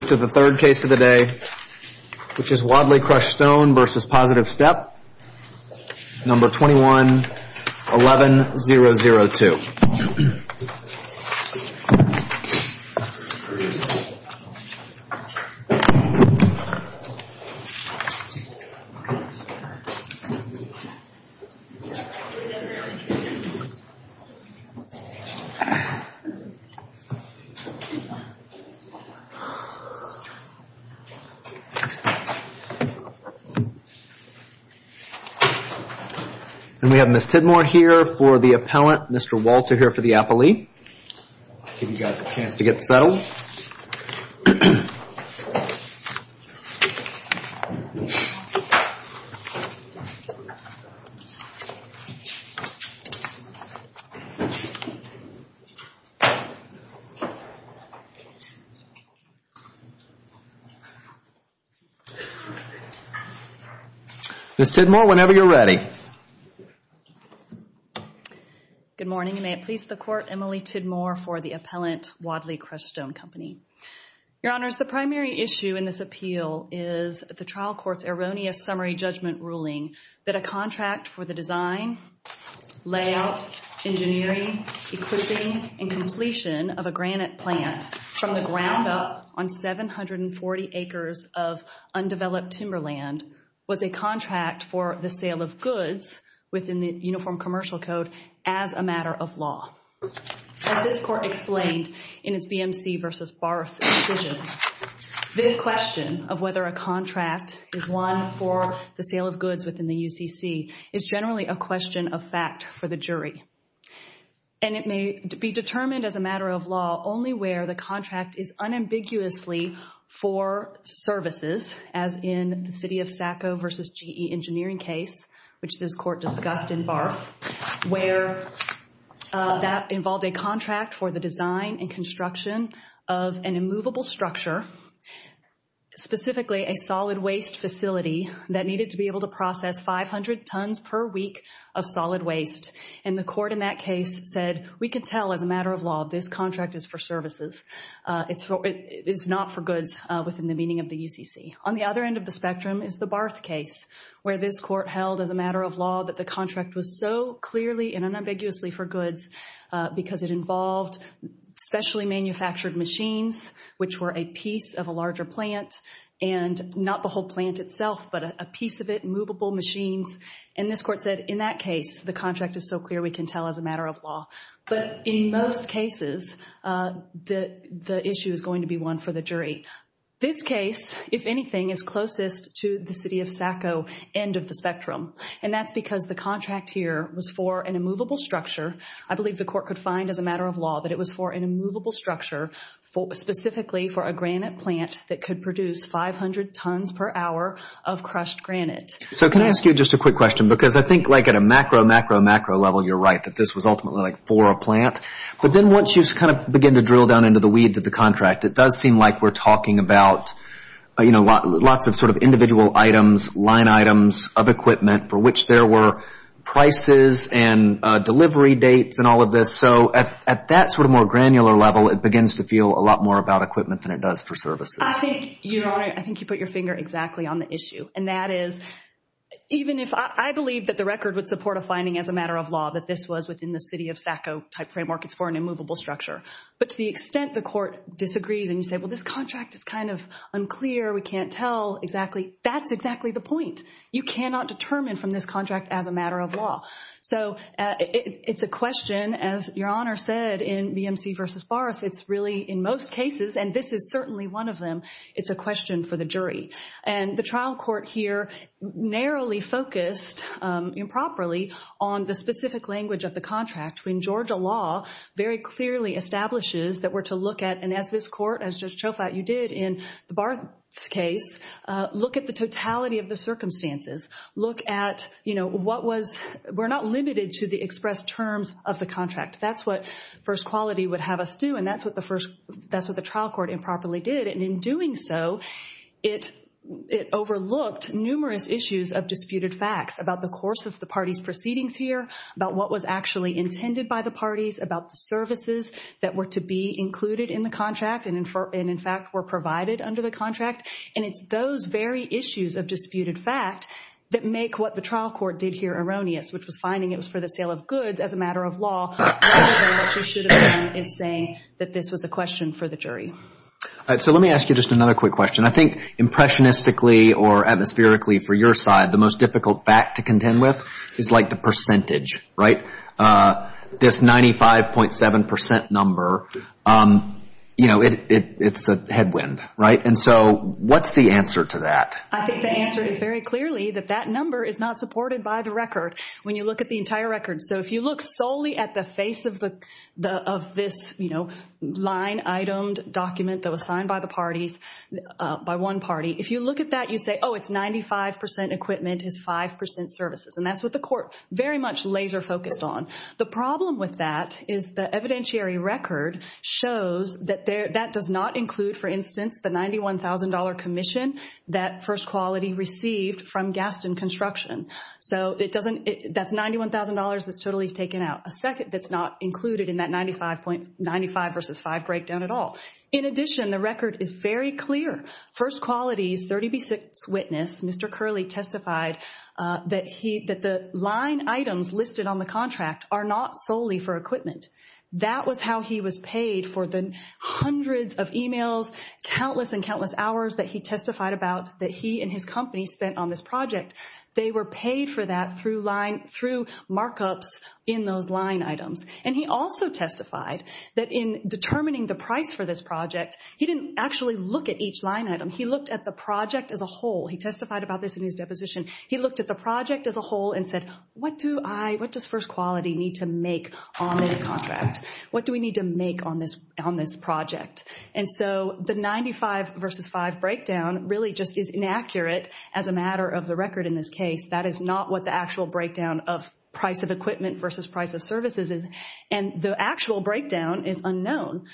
The third case of the day, which is Wadley Crushed Stone v. Positive Step, No. 21-11-002. And we have Ms. Tidmore here for the appellant, Mr. Walter here for the appellee. Give you guys a chance to get settled. Ms. Tidmore, whenever you're ready. Good morning. May it please the Court, Emily Tidmore for the appellant, Wadley Crushed Stone Company. Your Honors, the primary issue in this appeal is the trial court's erroneous summary judgment ruling that a contract for the design, layout, engineering, equipping, and completion of a granite plant from the ground up on 740 acres of undeveloped timberland was a contract for the sale of goods within the Uniform Commercial Code as a matter of law. As this Court explained in its BMC v. Barth decision, this question of whether a contract is one for the sale of goods within the UCC And it may be determined as a matter of law only where the contract is unambiguously for services, as in the City of Saco v. GE engineering case, which this Court discussed in Barth, where that involved a contract for the design and construction of an immovable structure, specifically a solid waste facility that needed to be able to process 500 tons per week of solid waste. And the Court in that case said, we can tell as a matter of law, this contract is for services. It's not for goods within the meaning of the UCC. On the other end of the spectrum is the Barth case, where this Court held as a matter of law that the contract was so clearly and unambiguously for goods because it involved specially manufactured machines, which were a piece of a larger plant, and not the whole plant itself, but a piece of it, movable machines. And this Court said, in that case, the contract is so clear we can tell as a matter of law. But in most cases, the issue is going to be one for the jury. This case, if anything, is closest to the City of Saco end of the spectrum. And that's because the contract here was for an immovable structure. I believe the Court could find as a matter of law that it was for an immovable structure, specifically for a granite plant that could produce 500 tons per hour of crushed granite. So can I ask you just a quick question? Because I think at a macro, macro, macro level, you're right that this was ultimately for a plant. But then once you begin to drill down into the weeds of the contract, it does seem like we're talking about lots of individual items, line items of equipment for which there were prices and delivery dates and all of this. So at that more granular level, it begins to feel a lot more about equipment than it does for services. I think you put your finger exactly on the issue. And that is, even if I believe that the record would support a finding as a matter of law that this was within the City of Saco type framework, it's for an immovable structure. But to the extent the Court disagrees and you say, well, this contract is kind of unclear, we can't tell exactly, that's exactly the point. You cannot determine from this contract as a matter of law. So it's a question, as Your Honor said, in BMC v. Barth, it's really in most cases, and this is certainly one of them, it's a question for the jury. And the trial court here narrowly focused improperly on the specific language of the contract when Georgia law very clearly establishes that we're to look at, and as this Court, as Judge Choufat, you did in the Barth case, look at the totality of the circumstances. Look at what was, we're not limited to the expressed terms of the contract. That's what first quality would have us do, and that's what the trial court improperly did. And in doing so, it overlooked numerous issues of disputed facts about the course of the party's proceedings here, about what was actually intended by the parties, about the services that were to be included in the contract and, in fact, were provided under the contract. And it's those very issues of disputed fact that make what the trial court did here erroneous, which was finding it was for the sale of goods as a matter of law, rather than what you should have done is saying that this was a question for the jury. So let me ask you just another quick question. I think impressionistically or atmospherically for your side, the most difficult fact to contend with is like the percentage, right? This 95.7 percent number, you know, it's a headwind, right? And so what's the answer to that? I think the answer is very clearly that that number is not supported by the record when you look at the entire record. So if you look solely at the face of this, you know, line-itemed document that was signed by the parties, by one party, if you look at that, you say, oh, it's 95 percent equipment, it's 5 percent services. And that's what the court very much laser focused on. The problem with that is the evidentiary record shows that that does not include, for instance, the $91,000 commission that First Quality received from Gaston Construction. So that's $91,000 that's totally taken out. A second that's not included in that 95 versus 5 breakdown at all. In addition, the record is very clear. First Quality's 30B6 witness, Mr. Curley, testified that the line items listed on the contract are not solely for equipment. That was how he was paid for the hundreds of emails, countless and countless hours that he testified about that he and his company spent on this project. They were paid for that through markups in those line items. And he also testified that in determining the price for this project, he didn't actually look at each line item. He looked at the project as a whole. He testified about this in his deposition. He looked at the project as a whole and said, what do I, what does First Quality need to make on this contract? What do we need to make on this project? And so the 95 versus 5 breakdown really just is inaccurate as a matter of the record in this case. That is not what the actual breakdown of price of equipment versus price of services is. And the actual breakdown is unknown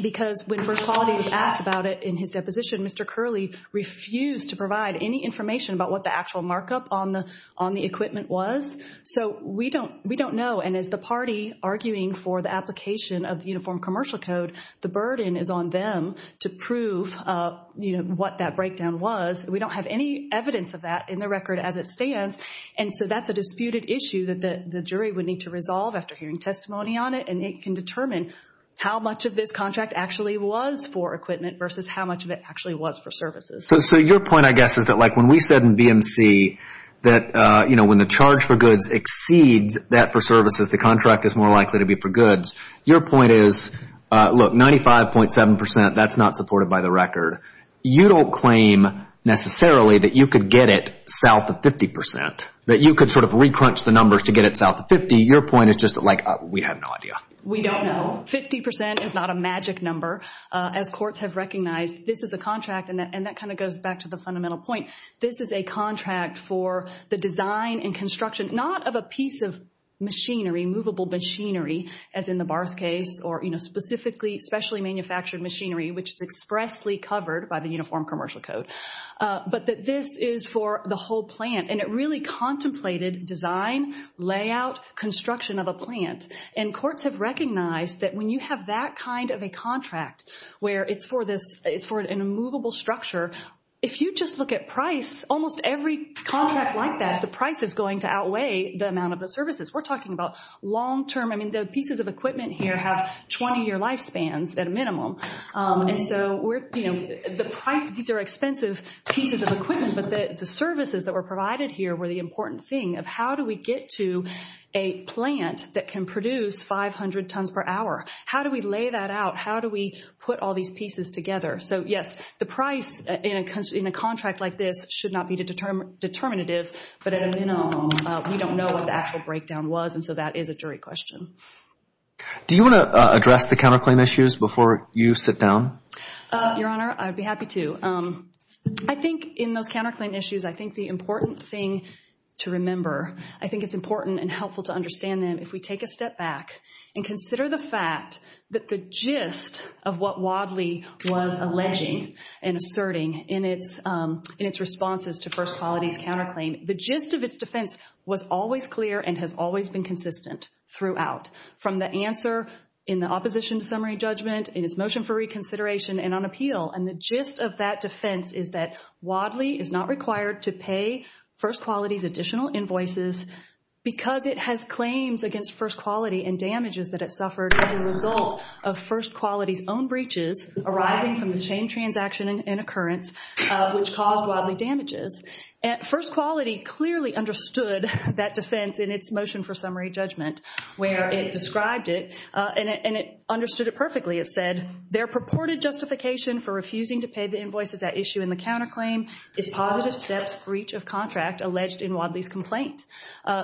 because when First Quality was asked about it in his deposition, Mr. Curley refused to provide any information about what the actual markup on the equipment was. So we don't know. And as the party arguing for the application of the Uniform Commercial Code, the burden is on them to prove what that breakdown was. We don't have any evidence of that in the record as it stands. And so that's a disputed issue that the jury would need to resolve after hearing testimony on it. And it can determine how much of this contract actually was for equipment versus how much of it actually was for services. So your point, I guess, is that like when we said in BMC that, you know, when the charge for goods exceeds that for services, the contract is more likely to be for goods. Your point is, look, 95.7 percent, that's not supported by the record. You don't claim necessarily that you could get it south of 50 percent, that you could sort of re-crunch the numbers to get it south of 50. Your point is just that, like, we have no idea. We don't know. Fifty percent is not a magic number. As courts have recognized, this is a contract, and that kind of goes back to the fundamental point. This is a contract for the design and construction, not of a piece of machinery, movable machinery as in the Barth case or, you know, specifically specially manufactured machinery, which is expressly covered by the Uniform Commercial Code, but that this is for the whole plant. And it really contemplated design, layout, construction of a plant. And courts have recognized that when you have that kind of a contract where it's for this, it's for an immovable structure, if you just look at price, almost every contract like that, the price is going to outweigh the amount of the services. We're talking about long-term. I mean, the pieces of equipment here have 20-year lifespans at a minimum. And so, you know, these are expensive pieces of equipment, but the services that were provided here were the important thing of how do we get to a plant that can produce 500 tons per hour? How do we lay that out? How do we put all these pieces together? So, yes, the price in a contract like this should not be determinative, but at a minimum, we don't know what the actual breakdown was, and so that is a jury question. Do you want to address the counterclaim issues before you sit down? Your Honor, I'd be happy to. I think in those counterclaim issues, I think the important thing to remember, I think it's important and helpful to understand them if we take a step back and consider the fact that the gist of what Wadley was alleging and asserting in its responses to First Quality's counterclaim, the gist of its defense was always clear and has always been consistent throughout, from the answer in the opposition to summary judgment, in its motion for reconsideration, and on appeal, and the gist of that defense is that Wadley is not required to pay First Quality's additional invoices because it has claims against First Quality and damages that it suffered as a result of First Quality's own breaches arising from the same transaction and occurrence which caused Wadley damages. First Quality clearly understood that defense in its motion for summary judgment where it described it and it understood it perfectly. It said, their purported justification for refusing to pay the invoices at issue in the counterclaim is positive steps breach of contract alleged in Wadley's complaint.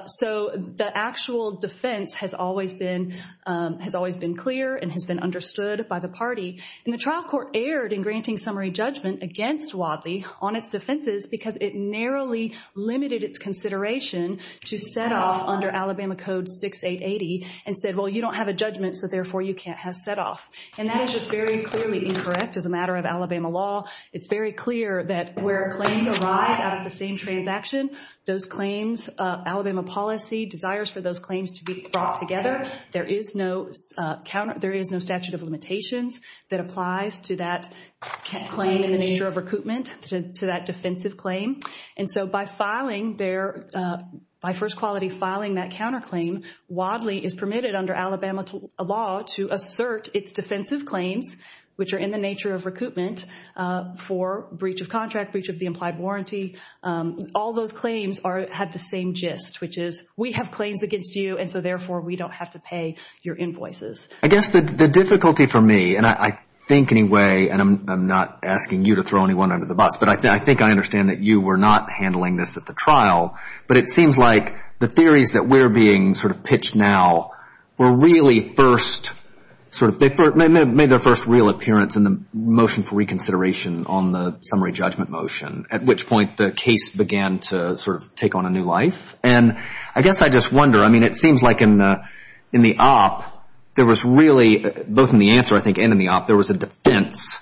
So the actual defense has always been clear and has been understood by the party. And the trial court erred in granting summary judgment against Wadley on its defenses because it narrowly limited its consideration to set off under Alabama Code 6880 and said, well, you don't have a judgment, so therefore you can't have set off. And that is just very clearly incorrect as a matter of Alabama law. It's very clear that where claims arise out of the same transaction, those claims, Alabama policy desires for those claims to be brought together. There is no statute of limitations that applies to that claim in the nature of recoupment to that defensive claim. And so by first quality filing that counterclaim, Wadley is permitted under Alabama law to assert its defensive claims, which are in the nature of recoupment for breach of contract, breach of the implied warranty. All those claims have the same gist, which is we have claims against you, and so therefore we don't have to pay your invoices. I guess the difficulty for me, and I think anyway, and I'm not asking you to throw anyone under the bus, but I think I understand that you were not handling this at the trial, but it seems like the theories that we're being sort of pitched now were really first sort of, they made their first real appearance in the motion for reconsideration on the summary judgment motion, at which point the case began to sort of take on a new life. And I guess I just wonder, I mean, it seems like in the op, there was really, both in the answer, I think, and in the op, there was a defense,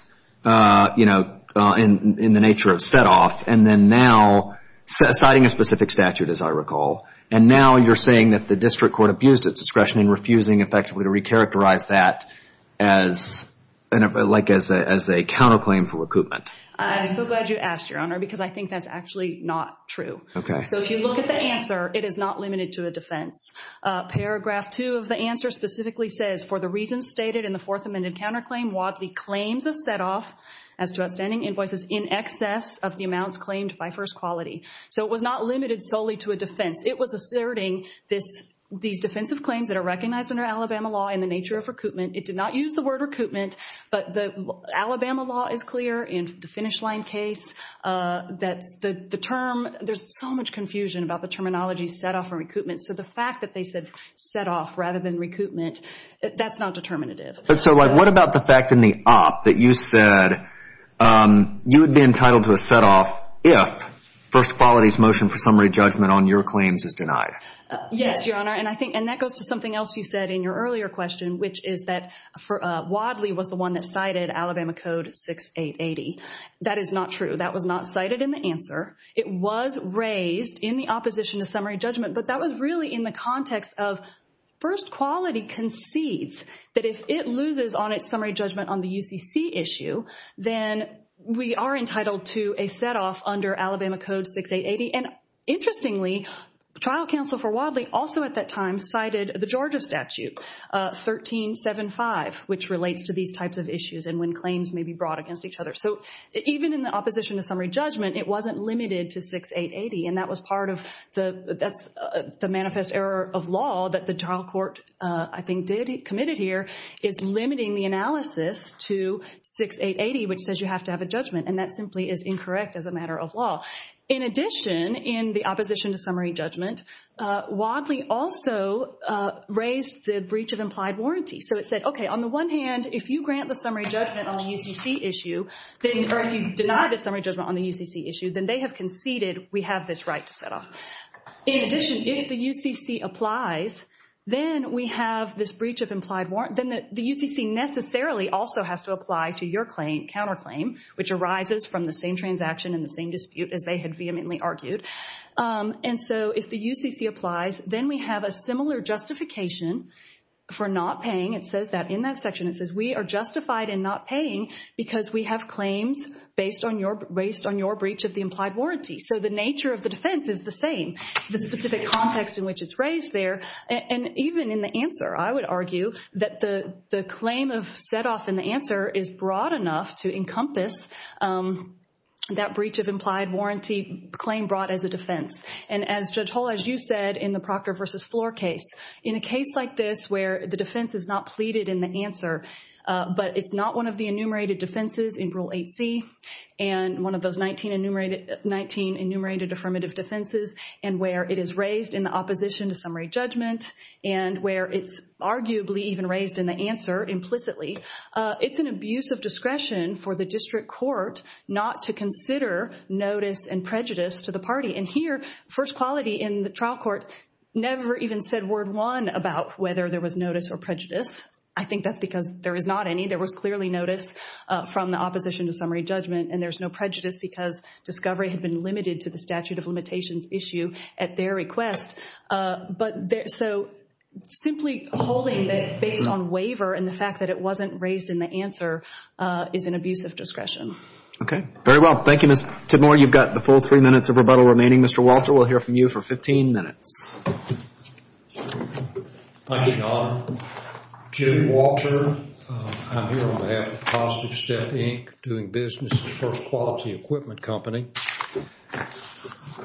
you know, in the nature of set off, and then now citing a specific statute, as I recall, and now you're saying that the district court abused its discretion in refusing effectively to recharacterize that as a counterclaim for recoupment. I'm so glad you asked, Your Honor, because I think that's actually not true. So if you look at the answer, it is not limited to a defense. Paragraph 2 of the answer specifically says, for the reasons stated in the Fourth Amendment counterclaim, Wadley claims a set off as to outstanding invoices in excess of the amounts claimed by first quality. So it was not limited solely to a defense. It was asserting these defensive claims that are recognized under Alabama law in the nature of recoupment. It did not use the word recoupment, but Alabama law is clear in the finish line case that the term, there's so much confusion about the terminology set off or recoupment, so the fact that they said set off rather than recoupment, that's not determinative. So what about the fact in the op that you said you would be entitled to a set off if first quality's motion for summary judgment on your claims is denied? Yes, Your Honor, and that goes to something else you said in your earlier question, which is that Wadley was the one that cited Alabama Code 6880. That is not true. That was not cited in the answer. It was raised in the opposition to summary judgment, but that was really in the context of first quality concedes that if it loses on its summary judgment on the UCC issue, then we are entitled to a set off under Alabama Code 6880. And interestingly, trial counsel for Wadley also at that time cited the Georgia statute 1375, which relates to these types of issues and when claims may be brought against each other. So even in the opposition to summary judgment, it wasn't limited to 6880, and that was part of the manifest error of law that the trial court, I think, committed here, is limiting the analysis to 6880, which says you have to have a judgment, and that simply is incorrect as a matter of law. In addition, in the opposition to summary judgment, Wadley also raised the breach of implied warranty. So it said, okay, on the one hand, if you grant the summary judgment on the UCC issue, or if you deny the summary judgment on the UCC issue, then they have conceded we have this right to set off. In addition, if the UCC applies, then we have this breach of implied warrant, then the UCC necessarily also has to apply to your claim, counterclaim, which arises from the same transaction and the same dispute as they had vehemently argued. And so if the UCC applies, then we have a similar justification for not paying. It says that in that section. It says we are justified in not paying because we have claims based on your breach of the implied warranty. So the nature of the defense is the same. The specific context in which it's raised there, and even in the answer, I would argue that the claim of set off in the answer is broad enough to encompass that breach of implied warranty claim brought as a defense. And as Judge Hull, as you said in the Proctor v. Floor case, in a case like this where the defense is not pleaded in the answer, but it's not one of the enumerated defenses in Rule 8c and one of those 19 enumerated affirmative defenses and where it is raised in the opposition to summary judgment and where it's arguably even raised in the answer implicitly, it's an abuse of discretion for the district court not to consider notice and prejudice to the party. And here, first quality in the trial court never even said word one about whether there was notice or prejudice. I think that's because there is not any. There was clearly notice from the opposition to summary judgment, and there's no prejudice because discovery had been limited to the statute of limitations issue at their request. So simply holding that based on waiver and the fact that it wasn't raised in the answer is an abuse of discretion. Okay. Very well. Thank you, Ms. Tidmore. You've got the full three minutes of rebuttal remaining. Mr. Walter, we'll hear from you for 15 minutes. Thank you, Your Honor. Jim Walter. I'm here on behalf of Positive Step, Inc., doing business as First Quality Equipment Company.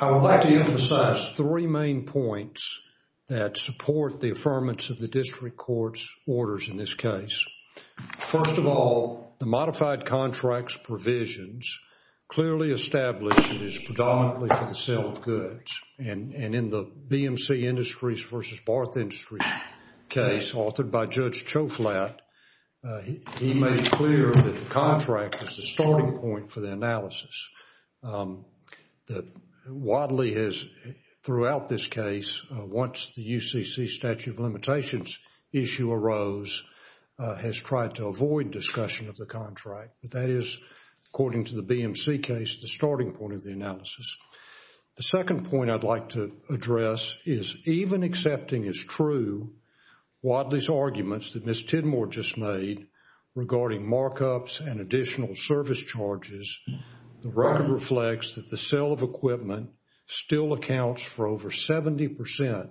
I would like to emphasize three main points that support the affirmance of the district court's orders in this case. First of all, the modified contracts provisions clearly established it is predominantly for the sale of goods. And in the BMC Industries versus Barth Industries case authored by Judge Choflat, he made clear that the contract was the starting point for the analysis. Wadley has, throughout this case, once the UCC statute of limitations issue arose, has tried to avoid discussion of the contract. That is, according to the BMC case, the starting point of the analysis. The second point I'd like to address is even accepting as true Wadley's arguments that Ms. Tidmore just made regarding markups and additional service charges, the record reflects that the sale of equipment still accounts for over 70%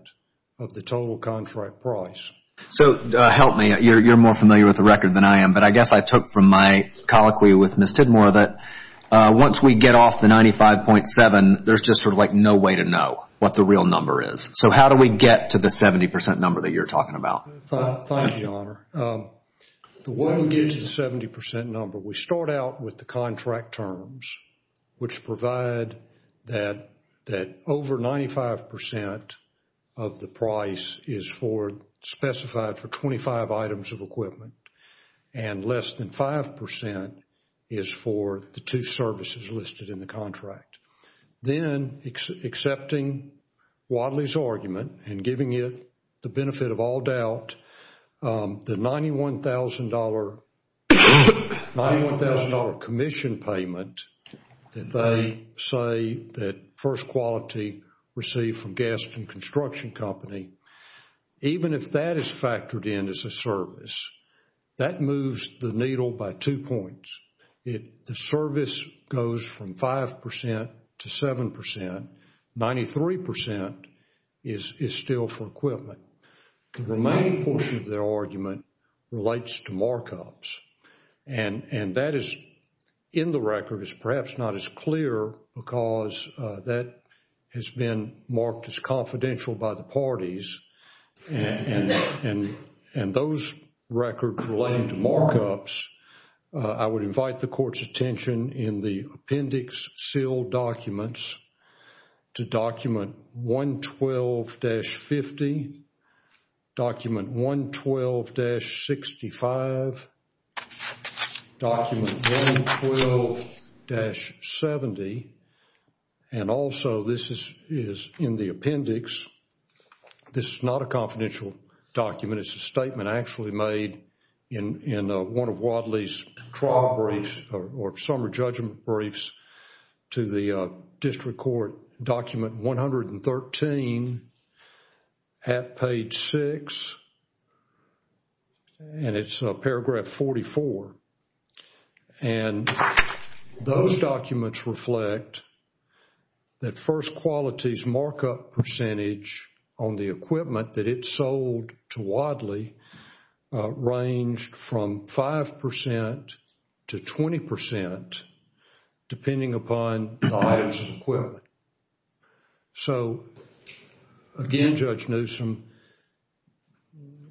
of the total contract price. So help me. You're more familiar with the record than I am, but I guess I took from my colloquy with Ms. Tidmore that once we get off the 95.7, there's just sort of like no way to know what the real number is. So how do we get to the 70% number that you're talking about? Thank you, Your Honor. The way we get to the 70% number, we start out with the contract terms, which provide that over 95% of the price is for specified for 25 items of equipment and less than 5% is for the two services listed in the contract. Then accepting Wadley's argument and giving it the benefit of all doubt, the $91,000 commission payment that they say that First Quality received from Gaston Construction Company, even if that is factored in as a service, that moves the needle by two points. The service goes from 5% to 7%. 93% is still for equipment. The remaining portion of their argument relates to markups, and that is in the record is perhaps not as clear because that has been marked as confidential by the parties. And those records relating to markups, I would invite the court's attention in the appendix seal documents to document 112-50, document 112-65, document 112-70, and also this is in the appendix. This is not a confidential document. It's a statement actually made in one of Wadley's trial briefs or summer judgment briefs to the district court document 113 at page 6, and it's paragraph 44. And those documents reflect that First Quality's markup percentage on the equipment that it sold to Wadley ranged from 5% to 20% depending upon the items and equipment. So again, Judge Newsom,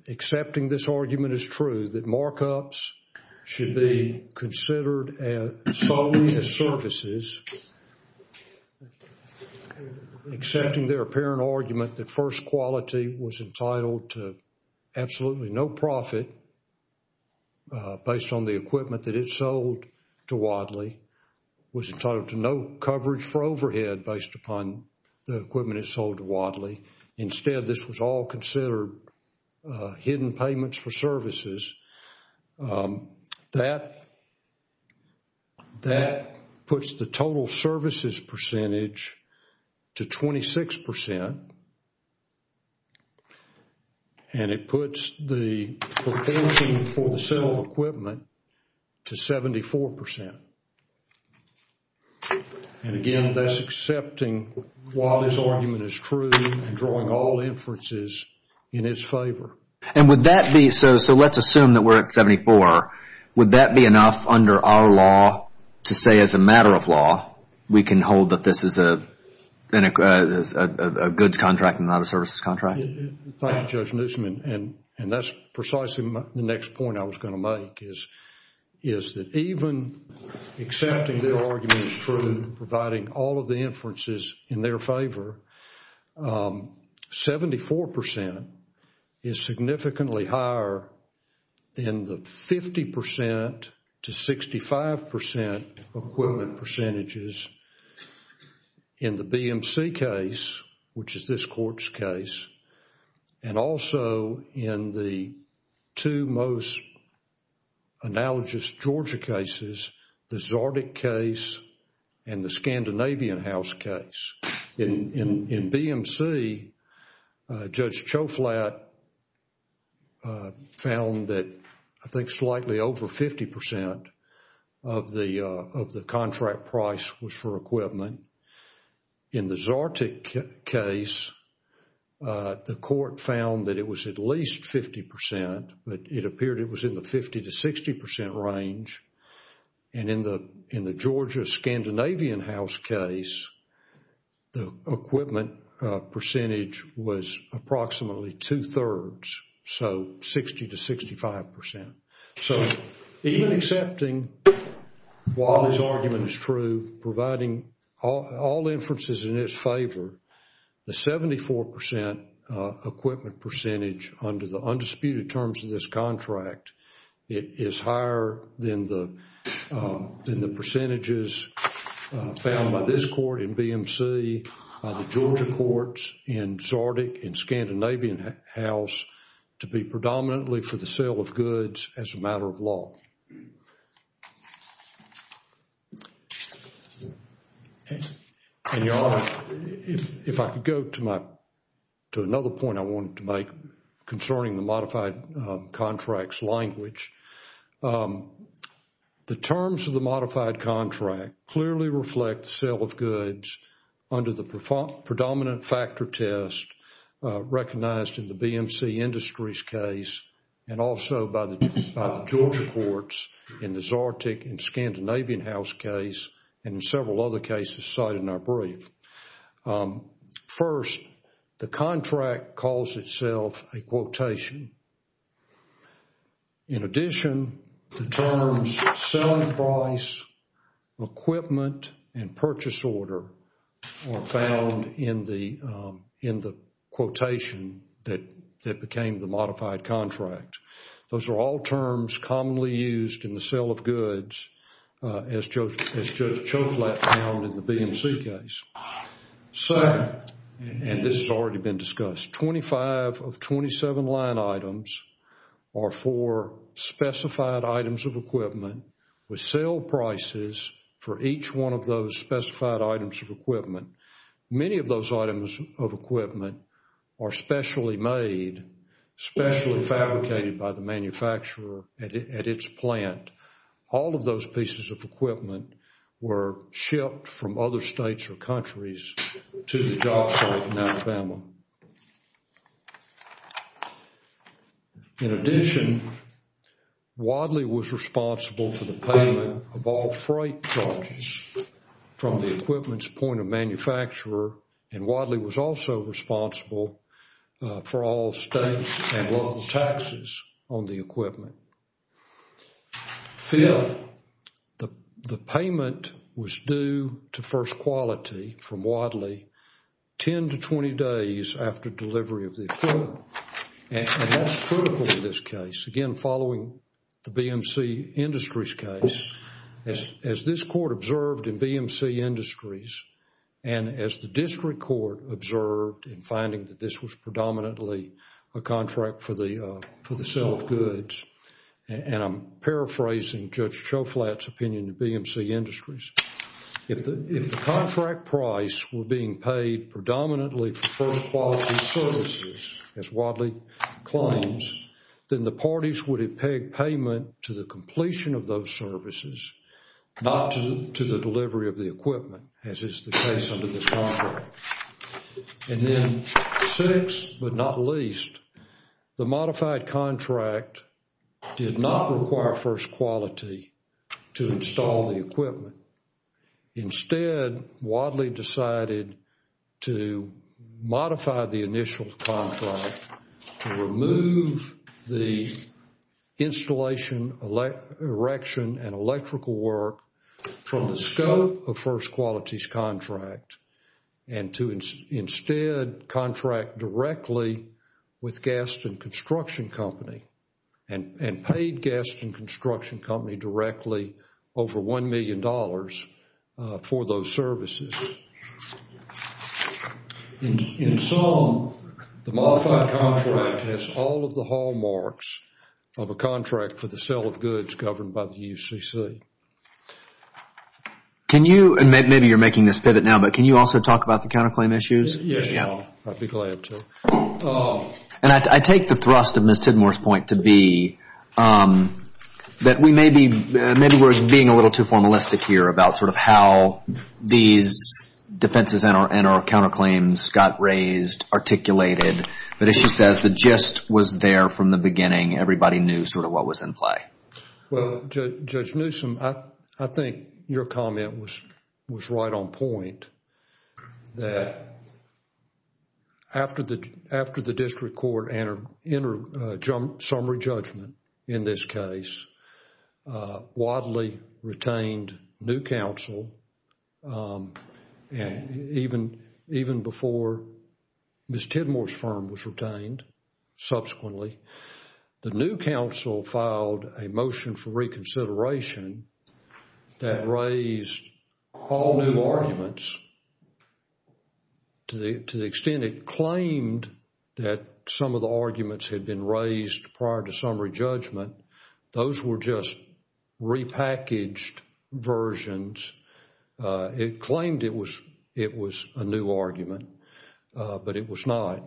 accepting this argument is true, that markups should be considered solely as services. Accepting their apparent argument that First Quality was entitled to absolutely no profit based on the equipment that it sold to Wadley was entitled to no coverage for overhead based upon the equipment it sold to Wadley. Instead, this was all considered hidden payments for services. That puts the total services percentage to 26% and it puts the propensity for the sale of equipment to 74%. And again, that's accepting Wadley's argument is true and drawing all inferences in its favor. And would that be, so let's assume that we're at 74, would that be enough under our law to say as a matter of law we can hold that this is a goods contract and not a services contract? Thank you, Judge Newsom. And that's precisely the next point I was going to make is that even accepting their argument is true and providing all of the inferences in their favor, 74% is significantly higher than the 50% to 65% equipment percentages in the BMC case, which is this court's case, and also in the two most analogous Georgia cases, the Zordic case and the Scandinavian House case. In BMC, Judge Choflat found that I think slightly over 50% of the contract price was for equipment. In the Zordic case, the court found that it was at least 50%, but it appeared it was in the 50% to 60% range. And in the Georgia Scandinavian House case, the equipment percentage was approximately two-thirds, so 60% to 65%. So even accepting Wallace's argument is true, providing all inferences in its favor, the 74% equipment percentage under the undisputed terms of this contract is higher than the percentages found by this court in BMC, by the Georgia courts in Zordic and Scandinavian House to be predominantly for the sale of goods as a matter of law. And Your Honor, if I could go to another point I wanted to make concerning the modified contract's language. The terms of the modified contract clearly reflect the sale of goods under the predominant factor test recognized in the BMC Industries case and also by the Georgia courts in the Zordic and Scandinavian House case and in several other cases cited in our brief. First, the contract calls itself a quotation. In addition, the terms selling price, equipment, and purchase order were found in the quotation that became the modified contract. Those are all terms commonly used in the sale of goods as Judge Choflat found in the BMC case. Second, and this has already been discussed, 25 of 27 line items are for specified items of equipment with sale prices for each one of those specified items of equipment. Many of those items of equipment are specially made, specially fabricated by the manufacturer at its plant. All of those pieces of equipment were shipped from other states or countries to the job site in Alabama. In addition, Wadley was responsible for the payment of all freight charges from the equipment's point of manufacturer, and Wadley was also responsible for all states and local taxes on the equipment. Fifth, the payment was due to first quality from Wadley 10 to 20 days after delivery of the equipment, and that's critical in this case. Again, following the BMC Industries case, as this court observed in BMC Industries and as the district court observed in finding that this was predominantly a contract for the sale of goods, and I'm paraphrasing Judge Schoflat's opinion of BMC Industries, if the contract price were being paid predominantly for first quality services, as Wadley claims, then the parties would have paid payment to the completion of those services, not to the delivery of the equipment, as is the case under this contract. And then sixth, but not least, the modified contract did not require first quality to install the equipment. Instead, Wadley decided to modify the initial contract to remove the installation, erection, and electrical work from the scope of first quality's contract and to instead contract directly with Gaston Construction Company and paid Gaston Construction Company directly over $1 million for those services. In sum, the modified contract has all of the hallmarks of a contract for the sale of goods governed by the UCC. Can you, and maybe you're making this pivot now, but can you also talk about the counterclaim issues? Yes, I'll be glad to. And I take the thrust of Ms. Tidmore's point to be that we may be, maybe we're being a little too formalistic here about sort of how these defenses and our counterclaims got raised, articulated, but as she says, the gist was there from the beginning. Everybody knew sort of what was in play. Well, Judge Newsom, I think your comment was right on point, that after the district court entered summary judgment in this case, Wadley retained new counsel, and even before Ms. Tidmore's firm was retained, subsequently, the new counsel filed a motion for reconsideration that raised all new arguments to the extent it claimed that some of the arguments had been raised prior to summary judgment. Those were just repackaged versions. It claimed it was a new argument, but it was not.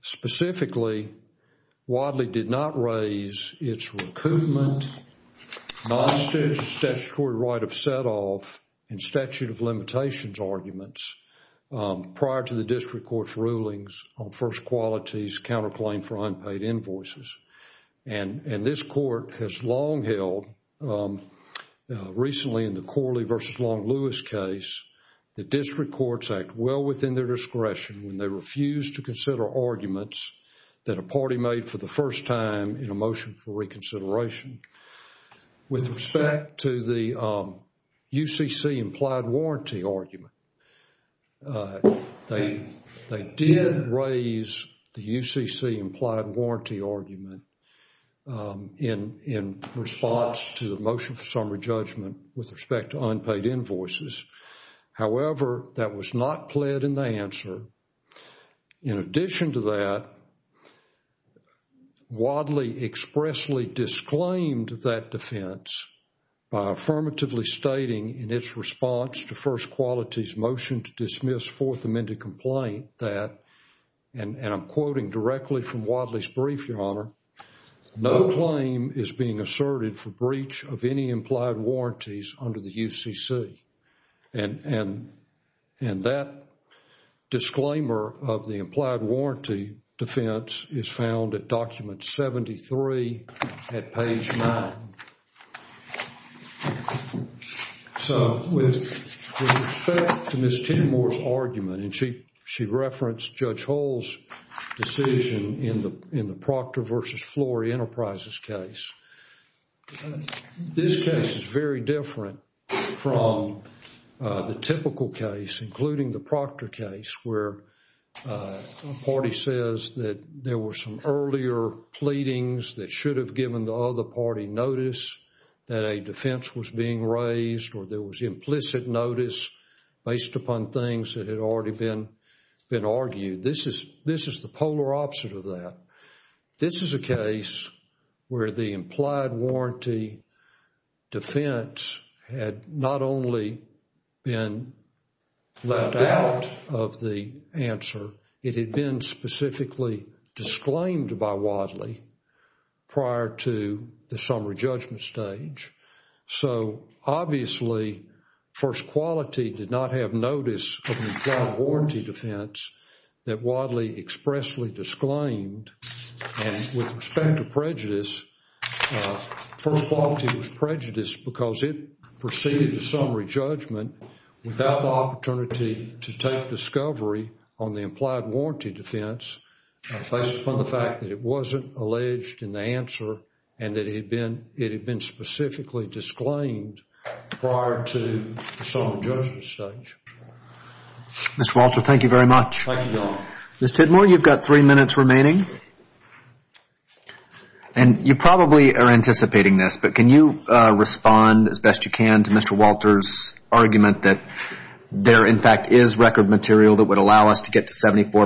Specifically, Wadley did not raise its recoupment, non-statutory right of set-off, and statute of limitations arguments prior to the district court's rulings on first qualities counterclaim for unpaid invoices. And this court has long held, recently in the Corley versus Long-Lewis case, the district courts act well within their discretion when they refuse to consider arguments that a party made for the first time in a motion for reconsideration. With respect to the UCC implied warranty argument, they did raise the UCC implied warranty argument in response to the motion for summary judgment with respect to unpaid invoices. However, that was not pled in the answer. In addition to that, Wadley expressly disclaimed that defense by affirmatively stating in its response to first qualities motion to dismiss fourth amended complaint that, and I'm quoting directly from Wadley's brief, Your Honor, no claim is being asserted for breach of any implied warranties under the UCC. And that disclaimer of the implied warranty defense is found at document 73 at page 9. So with respect to Ms. Tidmore's argument, and she referenced Judge Hull's decision in the Proctor versus Flory Enterprises case. This case is very different from the typical case, including the Proctor case where a party says that there were some earlier pleadings that should have given the other party notice that a defense was being raised or there was implicit notice based upon things that had already been argued. This is the polar opposite of that. This is a case where the implied warranty defense had not only been left out of the answer, it had been specifically disclaimed by Wadley prior to the summary judgment stage. So obviously, First Quality did not have notice of the implied warranty defense that Wadley expressly disclaimed. And with respect to prejudice, First Quality was prejudiced because it proceeded the summary judgment without the opportunity to take discovery on the implied warranty defense based upon the fact that it wasn't alleged in the answer and that it had been specifically disclaimed prior to the summary judgment stage. Mr. Walter, thank you very much. Thank you, John. Ms. Tidmore, you've got three minutes remaining. And you probably are anticipating this, but can you respond as best you can to Mr. Walter's argument that there, in fact, is record material that would allow us to get to 74%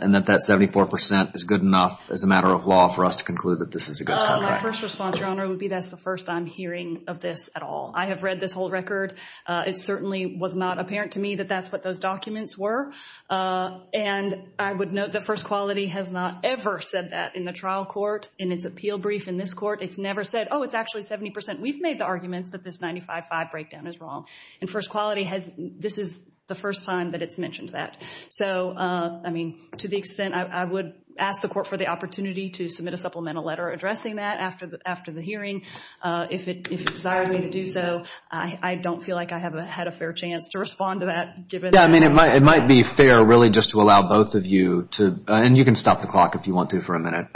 and that that 74% is good enough as a matter of law for us to conclude that this is a good time to act? My first response, Your Honor, would be that's the first I'm hearing of this at all. I have read this whole record. It certainly was not apparent to me that that's what those documents were. And I would note that First Quality has not ever said that in the trial court, in its appeal brief in this court. It's never said, oh, it's actually 70%. We've made the arguments that this 95-5 breakdown is wrong. And First Quality, this is the first time that it's mentioned that. So, I mean, to the extent I would ask the court for the opportunity to submit a supplemental letter addressing that after the hearing, if it desires me to do so. I don't feel like I have had a fair chance to respond to that. Yeah, I mean, it might be fair, really, just to allow both of you to, and you can stop the clock if you want to for a minute,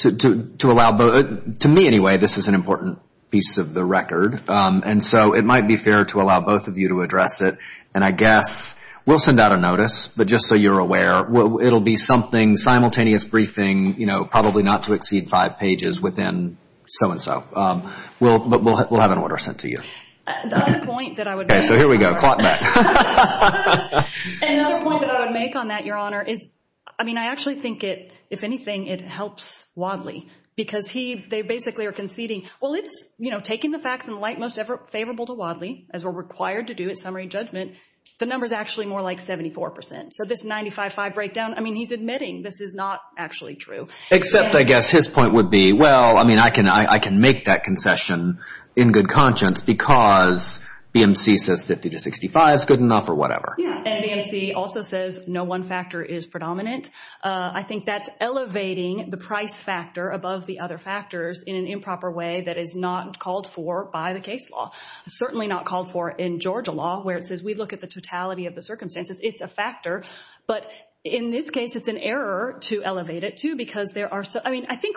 to allow both. To me, anyway, this is an important piece of the record. And so it might be fair to allow both of you to address it. And I guess we'll send out a notice, but just so you're aware, it'll be something, simultaneous briefing, probably not to exceed five pages within so-and-so. But we'll have an order sent to you. The other point that I would make on that, Your Honor. Okay, so here we go, clock back. And the other point that I would make on that, Your Honor, is, I mean, I actually think it, if anything, it helps Wadley. Because he, they basically are conceding, well, it's, you know, taking the facts in light most ever favorable to Wadley, as we're required to do at summary judgment, the number's actually more like 74%. So this 95-5 breakdown, I mean, he's admitting this is not actually true. Except, I guess, his point would be, well, I mean, I can make that concession in good conscience because BMC says 50 to 65 is good enough or whatever. Yeah, and BMC also says no one factor is predominant. I think that's elevating the price factor above the other factors in an improper way that is not called for by the case law. It's certainly not called for in Georgia law, where it says we look at the totality of the circumstances. It's a factor. But in this case, it's an error to elevate it, too, because there are, I mean, I think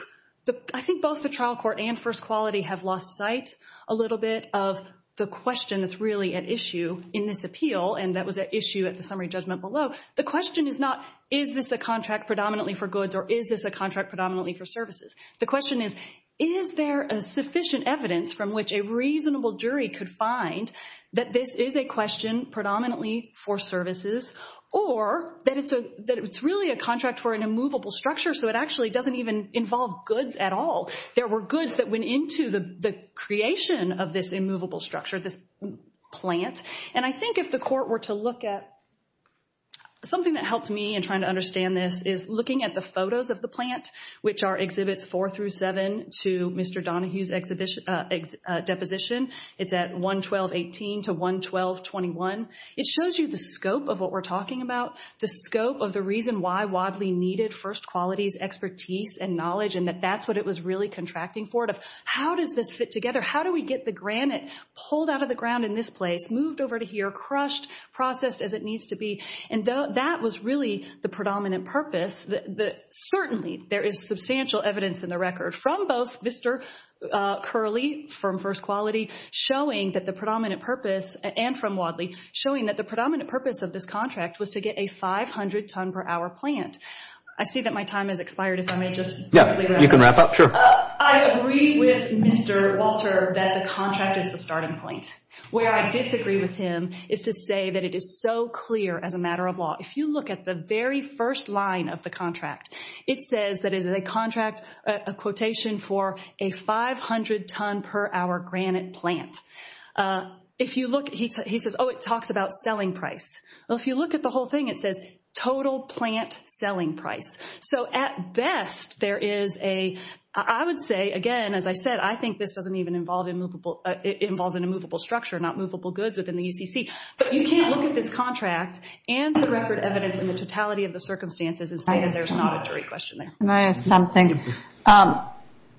both the trial court and first quality have lost sight a little bit of the question that's really at issue in this appeal, and that was at issue at the summary judgment below. The question is not, is this a contract predominantly for goods or is this a contract predominantly for services? The question is, is there sufficient evidence from which a reasonable jury could find that this is a question predominantly for services or that it's really a contract for an immovable structure so it actually doesn't even involve goods at all? There were goods that went into the creation of this immovable structure, this plant, and I think if the court were to look at something that helped me in trying to understand this is looking at the photos of the plant, which are exhibits 4 through 7 to Mr. Donohue's deposition. It's at 112.18 to 112.21. It shows you the scope of what we're talking about, the scope of the reason why Wadley needed first qualities, expertise, and knowledge, and that that's what it was really contracting for, of how does this fit together? How do we get the granite pulled out of the ground in this place, moved over to here, crushed, processed as it needs to be? And that was really the predominant purpose. Certainly there is substantial evidence in the record from both Mr. Curley from first quality showing that the predominant purpose, and from Wadley, showing that the predominant purpose of this contract was to get a 500 ton per hour plant. I see that my time has expired if I may just briefly wrap up. You can wrap up, sure. I agree with Mr. Walter that the contract is the starting point. Where I disagree with him is to say that it is so clear as a matter of law. If you look at the very first line of the contract, it says that it is a contract, a quotation for a 500 ton per hour granite plant. He says, oh, it talks about selling price. Well, if you look at the whole thing, it says total plant selling price. So at best there is a, I would say, again, as I said, I think this doesn't even involve an immovable structure, not movable goods within the UCC. But you can look at this contract and the record evidence and the totality of the circumstances and say that there is not a jury question there. Can I ask something?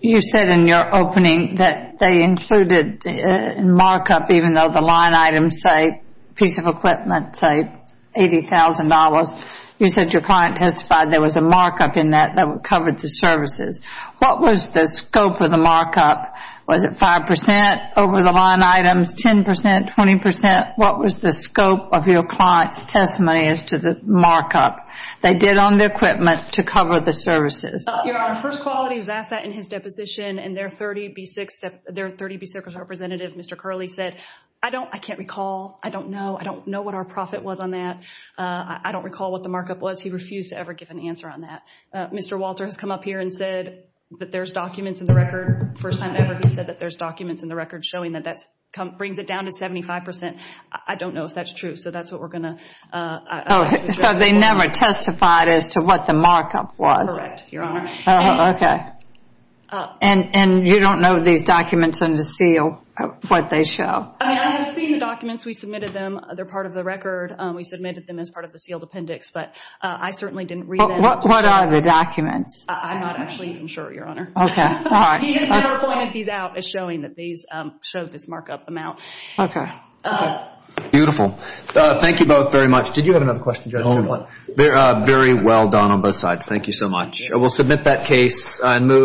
You said in your opening that they included in markup, even though the line items say piece of equipment say $80,000, you said your client testified there was a markup in that that covered the services. What was the scope of the markup? Was it 5% over the line items, 10%, 20%? What was the scope of your client's testimony as to the markup? They did own the equipment to cover the services. Our first quality was asked that in his deposition, and their 30 B6 representative, Mr. Curley, said, I can't recall. I don't know. I don't know what our profit was on that. I don't recall what the markup was. He refused to ever give an answer on that. Mr. Walter has come up here and said that there's documents in the record. First time ever he's said that there's documents in the record showing that that brings it down to 75%. I don't know if that's true. So that's what we're going to. So they never testified as to what the markup was. Correct, Your Honor. Okay. And you don't know these documents under seal, what they show? I mean, I have seen the documents. We submitted them. They're part of the record. We submitted them as part of the sealed appendix. But I certainly didn't read them. What are the documents? I'm not actually sure, Your Honor. Okay. He has never pointed these out as showing that these show this markup amount. Okay. Beautiful. Thank you both very much. Did you have another question, Judge? No. Very well done on both sides. Thank you so much. We'll submit that case and move on.